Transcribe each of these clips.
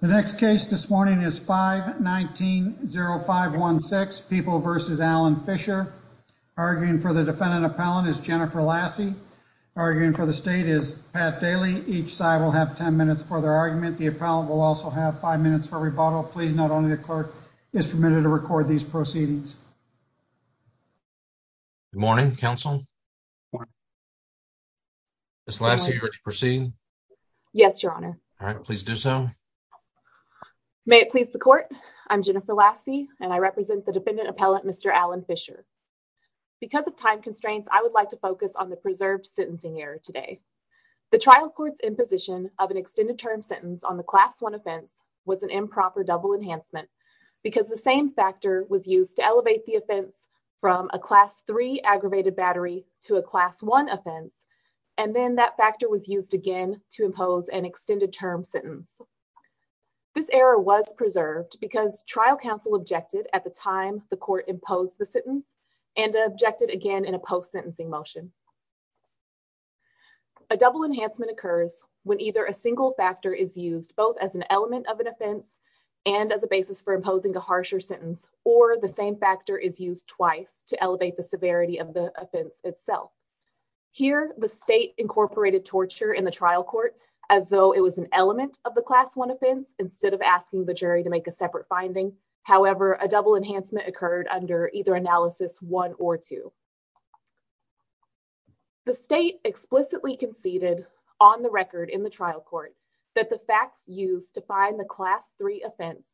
The next case this morning is 519-0516, People v. Alan Fisher. Arguing for the defendant appellant is Jennifer Lassie. Arguing for the state is Pat Daly. Each side will have 10 minutes for their argument. The appellant will also have 5 minutes for rebuttal. Please note only the clerk is permitted to record these proceedings. Good morning, counsel. Morning. Ms. Lassie, are you ready to proceed? Yes, your honor. All right, please do so. May it please the court, I'm Jennifer Lassie, and I represent the defendant appellant, Mr. Alan Fisher. Because of time constraints, I would like to focus on the preserved sentencing error today. The trial court's imposition of an extended term sentence on the Class 1 offense was an improper double enhancement because the same factor was used to elevate the offense from a Class 3 aggravated battery to a Class 1 offense. And then that factor was used again to impose an extended term sentence. This error was preserved because trial counsel objected at the time the court imposed the sentence and objected again in a post-sentencing motion. A double enhancement occurs when either a single factor is used both as an element of an offense and as a basis for imposing a harsher sentence, or the same factor is used twice to elevate the severity of the offense itself. Here, the state incorporated torture in the trial court as though it was an element of the Class 1 offense instead of asking the jury to make a separate finding. However, a double enhancement occurred under either Analysis 1 or 2. The state explicitly conceded on the record in the trial court that the facts used to find the Class 3 offense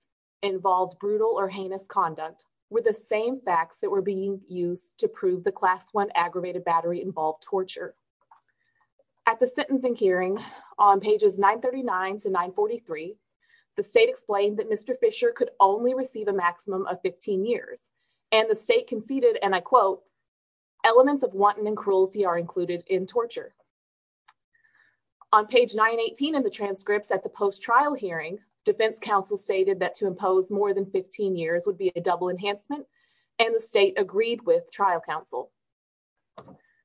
involved brutal or heinous conduct were the same facts that were being used to prove the Class 1 aggravated battery involved torture. At the sentencing hearing on pages 939 to 943, the state explained that Mr. Fisher could only receive a maximum of 15 years and the state conceded, and I quote, elements of wanton and cruelty are included in torture. On page 918 in the transcripts at the post-trial hearing, defense counsel stated that to impose more than 15 years would be a double enhancement, and the state agreed with trial counsel.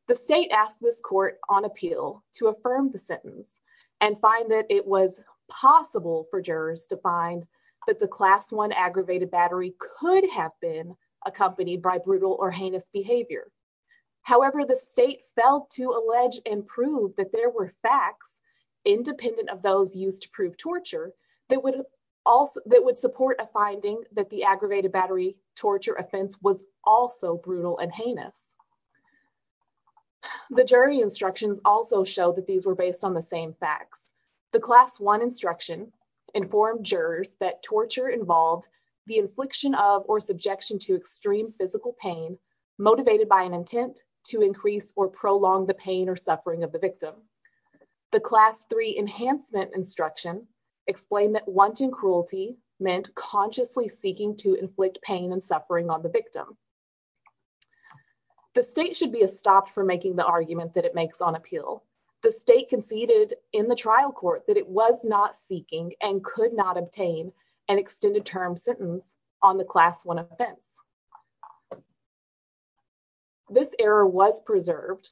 The state asked this court on appeal to affirm the sentence and find that it was possible for jurors to find that the Class 1 aggravated battery could have been accompanied by brutal or heinous behavior. However, the state failed to allege and prove that there were facts independent of those used to prove torture that would support a finding that the aggravated battery torture offense was also brutal and heinous. The jury instructions also show that these were based on the same facts. The Class 1 instruction informed jurors that torture involved the infliction of or subjection to extreme physical pain motivated by an intent to increase or prolong the pain or suffering of the victim. The Class 3 enhancement instruction explained that wanton cruelty meant consciously seeking to inflict pain and suffering on the victim. The state should be stopped from making the argument that it makes on appeal. The state conceded in the trial court that it was not seeking and could not obtain an extended term sentence on the Class 1 offense. This error was preserved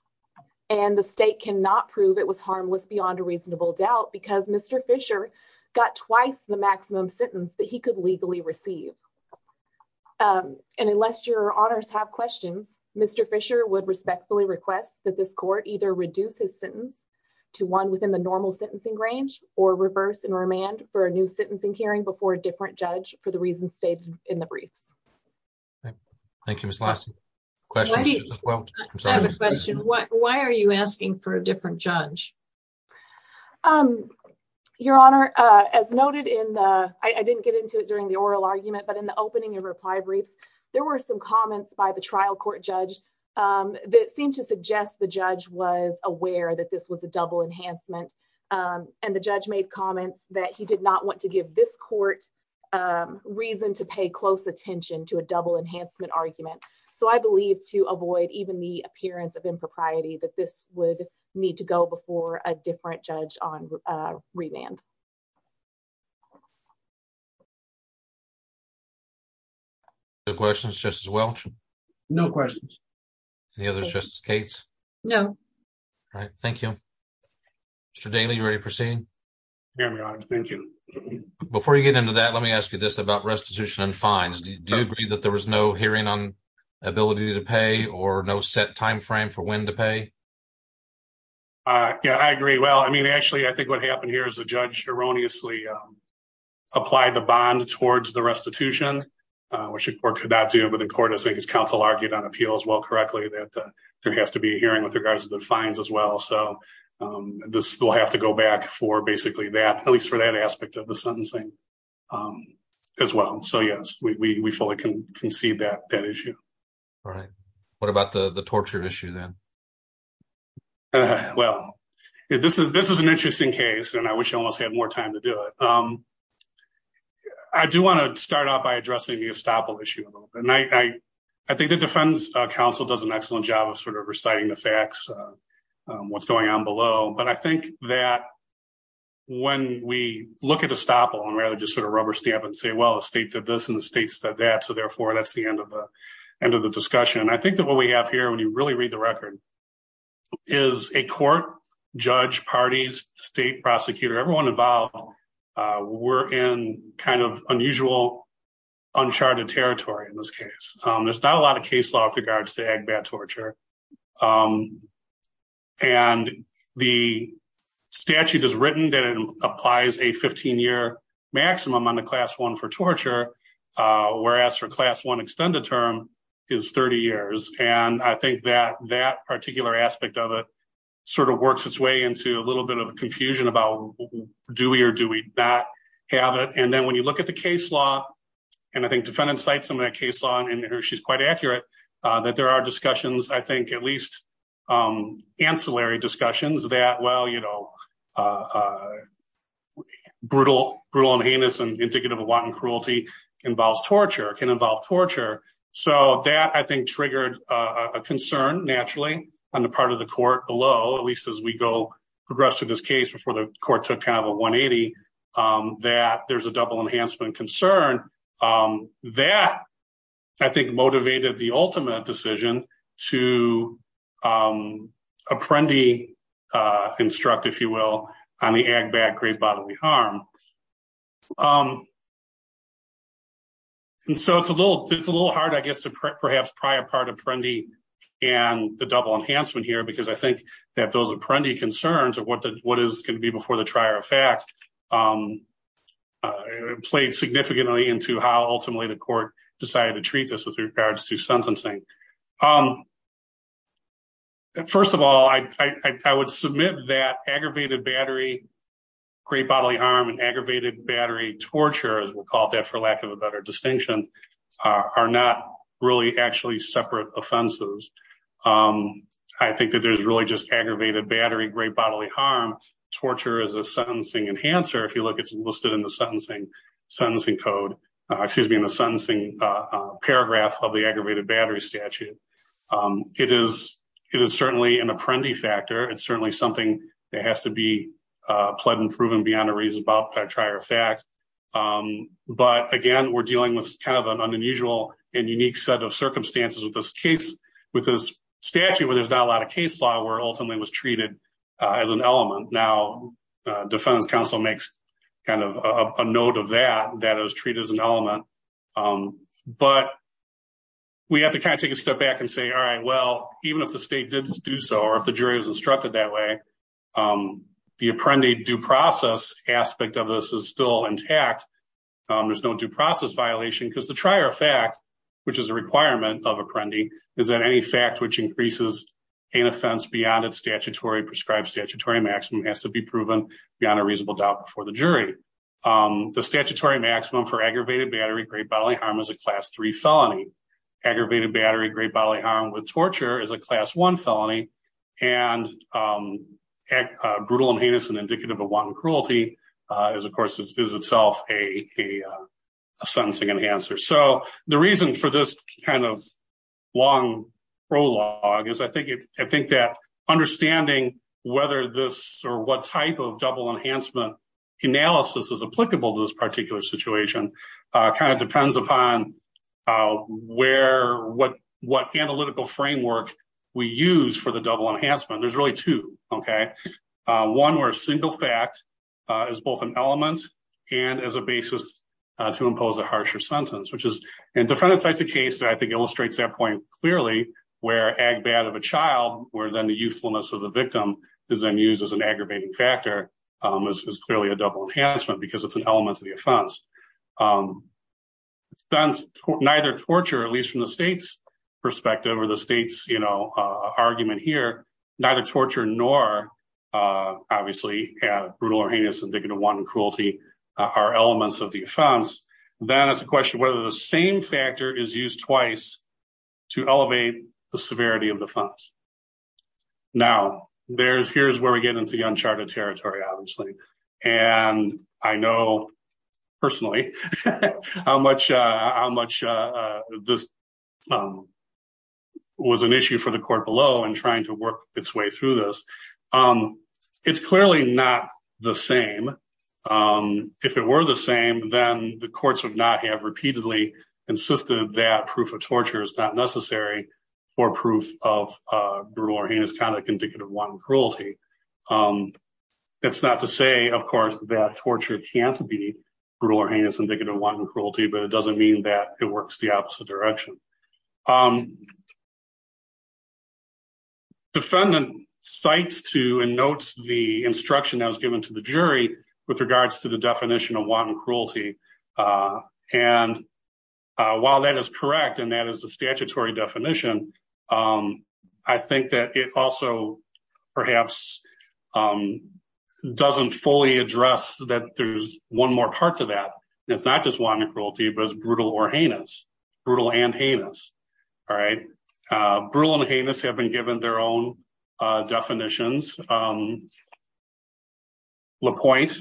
and the state cannot prove it was harmless beyond a reasonable doubt because Mr. Fisher got twice the maximum sentence that he could legally receive. And unless your honors have questions, Mr. Fisher would respectfully request that this court either reduce his sentence to one within the normal sentencing range or reverse and remand for a new sentencing hearing before a different judge for the reasons stated in the briefs. Thank you, Ms. Lasky. I have a question. Why are you asking for a different judge? Your honor, as noted in the, I didn't get into it during the oral argument, but in the opening of reply briefs, there were some comments by the trial court judge that seemed to suggest the judge was aware that this was a double enhancement. And the judge made comments that he did not want to give this court reason to pay close attention to a double enhancement argument. So I believe to avoid even the appearance of impropriety, that this would need to go before a different judge on remand. Questions, Justice Welch? No questions. Any others, Justice Gates? No. All right, thank you. Mr. Daley, you ready to proceed? Yes, your honor. Thank you. Before you get into that, let me ask you this about restitution and fines. Do you agree that there was no hearing on ability to pay or no set time frame for when to pay? Yeah, I agree. Well, I mean, actually, I think what happened here is the judge erroneously applied the bond towards the restitution, which the court could not do, but the court, I think, as counsel argued on appeal as well correctly, that there has to be a hearing with regards to the fines as well. So this will have to go back for basically that, at least for that aspect of the sentencing as well. So, yes, we fully concede that issue. All right. What about the torture issue then? Well, this is an interesting case, and I wish I almost had more time to do it. I do want to start out by addressing the estoppel issue a little bit. I think the defense counsel does an excellent job of sort of reciting the facts, what's going on below. But I think that when we look at estoppel and rather just sort of rubber stamp and say, well, the state did this and the state said that. So, therefore, that's the end of the end of the discussion. And I think that what we have here, when you really read the record, is a court, judge, parties, state prosecutor, everyone involved. We're in kind of unusual, uncharted territory in this case. There's not a lot of case law with regards to agbat torture. And the statute is written that it applies a 15 year maximum on the class one for torture, whereas for class one extended term is 30 years. And I think that that particular aspect of it sort of works its way into a little bit of confusion about do we or do we not have it. And then when you look at the case law and I think defendants cite some of that case law and she's quite accurate that there are discussions, I think, at least ancillary discussions that, well, you know, brutal, brutal and heinous and indicative of wanton cruelty involves torture, can involve torture. So that, I think, triggered a concern, naturally, on the part of the court below, at least as we go progress to this case before the court took kind of a 180, that there's a double enhancement concern. That, I think, motivated the ultimate decision to apprendee, instruct, if you will, on the agbat grave bodily harm. And so it's a little, it's a little hard, I guess, to perhaps pry apart apprendee and the double enhancement here because I think that those apprendee concerns of what the what is going to be before the trier of fact played significantly into how ultimately the court decided to treat this with regards to sentencing. First of all, I would submit that aggravated battery grave bodily harm and aggravated battery torture, as we'll call it that for lack of a better distinction, are not really actually separate offenses. I think that there's really just aggravated battery grave bodily harm. Torture is a sentencing enhancer. If you look, it's listed in the sentencing code, excuse me, in the sentencing paragraph of the aggravated battery statute. It is certainly an apprendee factor. It's certainly something that has to be pled and proven beyond a reasonable prior fact. But again, we're dealing with kind of an unusual and unique set of circumstances with this case, with this statute where there's not a lot of case law where ultimately was treated as an element. Now, defense counsel makes kind of a note of that that is treated as an element. But we have to kind of take a step back and say, all right, well, even if the state didn't do so, or if the jury was instructed that way, the apprendee due process aspect of this is still intact. There's no due process violation because the prior fact, which is a requirement of apprendee, is that any fact which increases an offense beyond its statutory prescribed statutory maximum has to be proven beyond a reasonable doubt before the jury. The statutory maximum for aggravated battery grave bodily harm is a class three felony. Aggravated battery grave bodily harm with torture is a class one felony and brutal and heinous and indicative of one cruelty is, of course, is itself a sentencing enhancer. So the reason for this kind of long prologue is I think that understanding whether this or what type of double enhancement analysis is applicable to this particular situation kind of depends upon what analytical framework we use for the double enhancement. There's really two. Okay. One where a single fact is both an element and as a basis to impose a harsher sentence, which is, and defendant cites a case that I think illustrates that point clearly where agbat of a child where then the youthfulness of the victim is then used as an aggravating factor is clearly a double enhancement because it's an element of the offense. Neither torture, at least from the state's perspective or the state's, you know, argument here, neither torture nor obviously brutal or heinous indicative of one cruelty are elements of the offense. Then it's a question whether the same factor is used twice to elevate the severity of the funds. Now, there's here's where we get into the uncharted territory, obviously. And I know personally how much how much this was an issue for the court below and trying to work its way through this. It's clearly not the same. If it were the same, then the courts would not have repeatedly insisted that proof of torture is not necessary for proof of brutal or heinous conduct indicative of one cruelty. It's not to say, of course, that torture can't be brutal or heinous indicative of one cruelty, but it doesn't mean that it works the opposite direction. Defendant cites to and notes the instruction that was given to the jury with regards to the definition of one cruelty. And while that is correct, and that is the statutory definition. I think that it also perhaps doesn't fully address that. There's one more part to that. It's not just one cruelty, but it's brutal or heinous, brutal and heinous. All right, brutal and heinous have been given their own definitions. Lapointe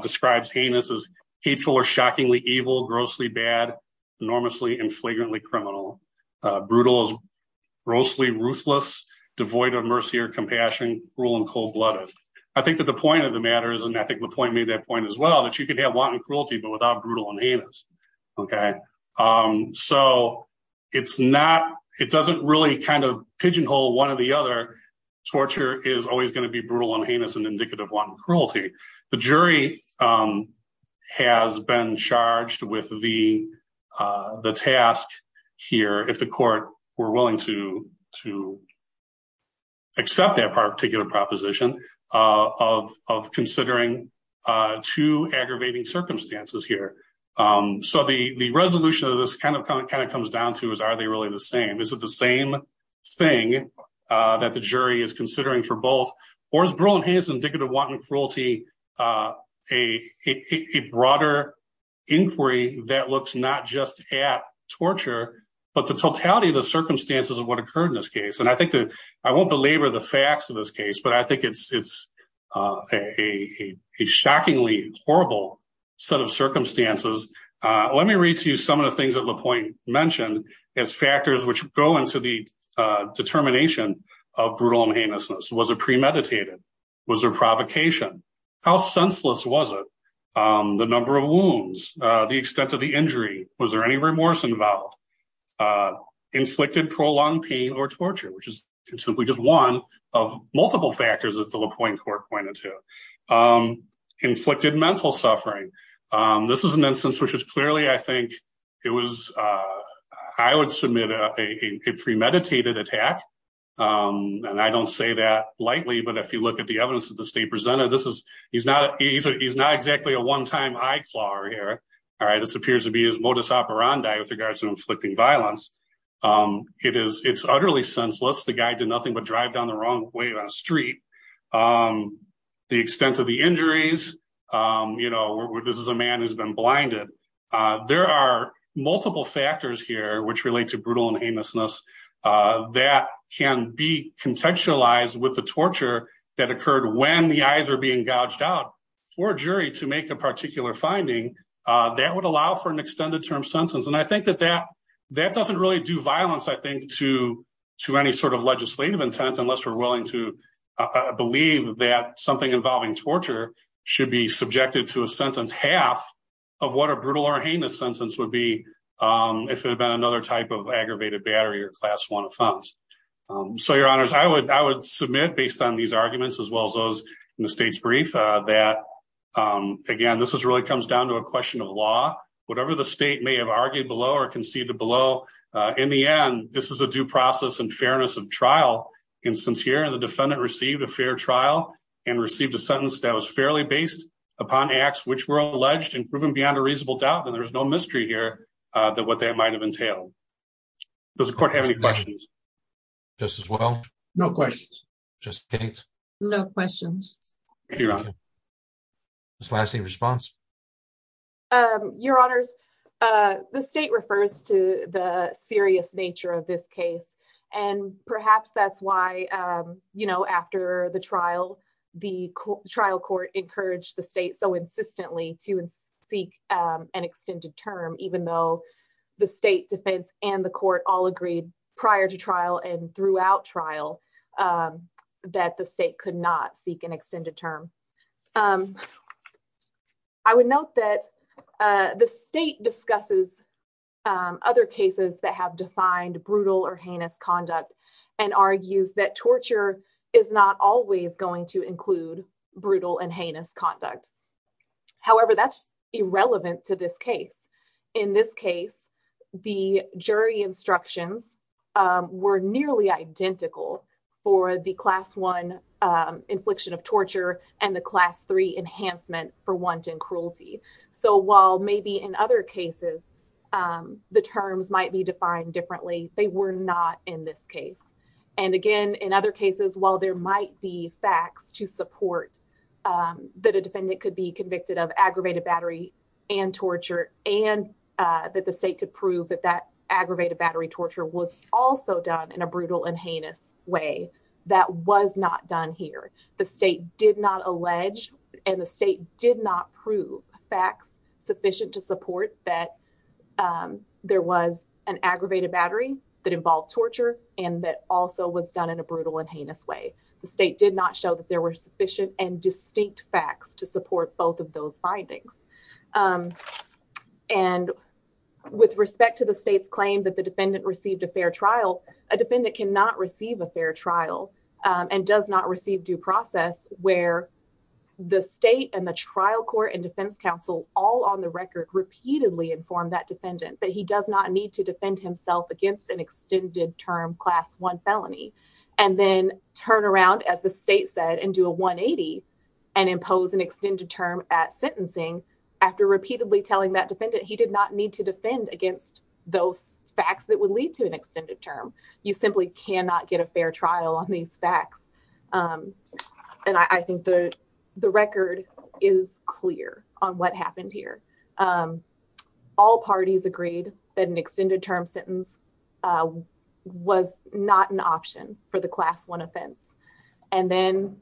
describes heinous as hateful or shockingly evil, grossly bad, enormously and flagrantly criminal. Brutal is grossly ruthless, devoid of mercy or compassion, cruel and cold blooded. I think that the point of the matter is, and I think Lapointe made that point as well, that you can have wanton cruelty, but without brutal and heinous. Okay, so it's not, it doesn't really kind of pigeonhole one or the other. Torture is always going to be brutal and heinous and indicative of wanton cruelty. The jury has been charged with the task here, if the court were willing to accept that particular proposition of considering two aggravating circumstances here. So the resolution of this kind of comes down to is, are they really the same? Is it the same thing that the jury is considering for both? Or is brutal and heinous indicative of wanton cruelty a broader inquiry that looks not just at torture, but the totality of the circumstances of what occurred in this case? And I think that, I won't belabor the facts of this case, but I think it's a shockingly horrible set of circumstances. Let me read to you some of the things that Lapointe mentioned as factors which go into the determination of brutal and heinousness. Was it premeditated? Was there provocation? How senseless was it? The number of wounds? The extent of the injury? Was there any remorse involved? Inflicted prolonged pain or torture, which is simply just one of multiple factors that the Lapointe court pointed to. Inflicted mental suffering. This is an instance which is clearly, I think it was, I would submit a premeditated attack. And I don't say that lightly, but if you look at the evidence that the state presented, this is, he's not exactly a one-time eye claw here. All right. This appears to be his modus operandi with regards to inflicting violence. It's utterly senseless. The guy did nothing but drive down the wrong way on a street. The extent of the injuries, you know, this is a man who's been blinded. There are multiple factors here which relate to brutal and heinousness that can be contextualized with the torture that occurred when the eyes are being gouged out for a jury to make a particular finding that would allow for an extended term sentence. And I think that that doesn't really do violence, I think, to any sort of legislative intent unless we're willing to believe that something involving torture should be subjected to a sentence. Half of what a brutal or heinous sentence would be if it had been another type of aggravated battery or class one offense. So, your honors, I would submit based on these arguments as well as those in the state's brief that, again, this really comes down to a question of law. Whatever the state may have argued below or conceded below, in the end, this is a due process and fairness of trial. And since here the defendant received a fair trial and received a sentence that was fairly based upon acts which were alleged and proven beyond a reasonable doubt, then there is no mystery here that what that might have entailed. Does the court have any questions? Just as well? No questions. Just states? No questions. Thank you, your honor. Ms. Lassie, response? Your honors, the state refers to the serious nature of this case. And perhaps that's why, you know, after the trial, the trial court encouraged the state so insistently to seek an extended term, even though the state defense and the court all agreed prior to trial and throughout trial that the state could not seek an extended term. I would note that the state discusses other cases that have defined brutal or heinous conduct and argues that torture is not always going to include brutal and heinous conduct. However, that's irrelevant to this case. In this case, the jury instructions were nearly identical for the class one infliction of torture and the class three enhancement for wanton cruelty. So while maybe in other cases the terms might be defined differently, they were not in this case. And again, in other cases, while there might be facts to support that a defendant could be convicted of aggravated battery and torture and that the state could prove that that aggravated battery torture was also done in a brutal and heinous way, that was not done here. The state did not allege and the state did not prove facts sufficient to support that there was an aggravated battery that involved torture and that also was done in a brutal and heinous way. The state did not show that there were sufficient and distinct facts to support both of those findings. And with respect to the state's claim that the defendant received a fair trial, a defendant cannot receive a fair trial and does not receive due process where the state and the trial court and defense counsel all on the record repeatedly informed that defendant that he does not need to defend himself against an extended term class one felony and then turn around, as the state said, and do a 180 and impose an extended term at sentencing. After repeatedly telling that defendant, he did not need to defend against those facts that would lead to an extended term, you simply cannot get a fair trial on these facts. And I think the the record is clear on what happened here. All parties agreed that an extended term sentence. Was not an option for the class one offense and then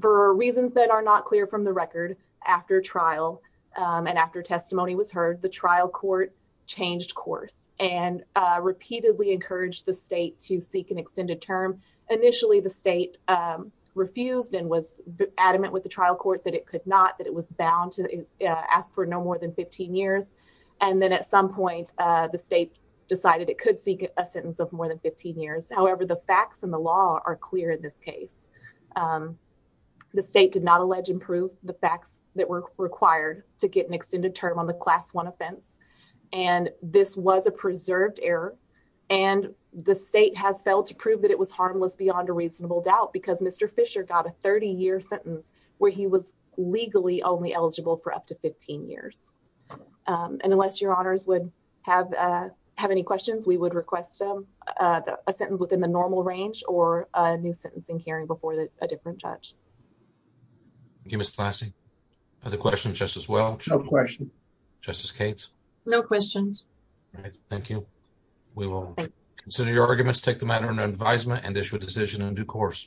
for reasons that are not clear from the record after trial and after testimony was heard the trial court changed course and repeatedly encouraged the state to seek an extended term initially the state. Refused and was adamant with the trial court that it could not that it was bound to ask for no more than 15 years and then at some point the state decided, it could seek a sentence of more than 15 years, however, the facts and the law are clear in this case. The state did not allege improve the facts that were required to get an extended term on the class one offense, and this was a preserved error. And the state has failed to prove that it was harmless beyond a reasonable doubt because Mr Fisher got a 30 year sentence where he was legally only eligible for up to 15 years. And unless your honors would have have any questions, we would request them a sentence within the normal range or a new sentencing hearing before a different judge. Give us classy other questions just as well. No question. Just as Kate's no questions. Thank you. We will consider your arguments take the matter and advisement and issue a decision in due course.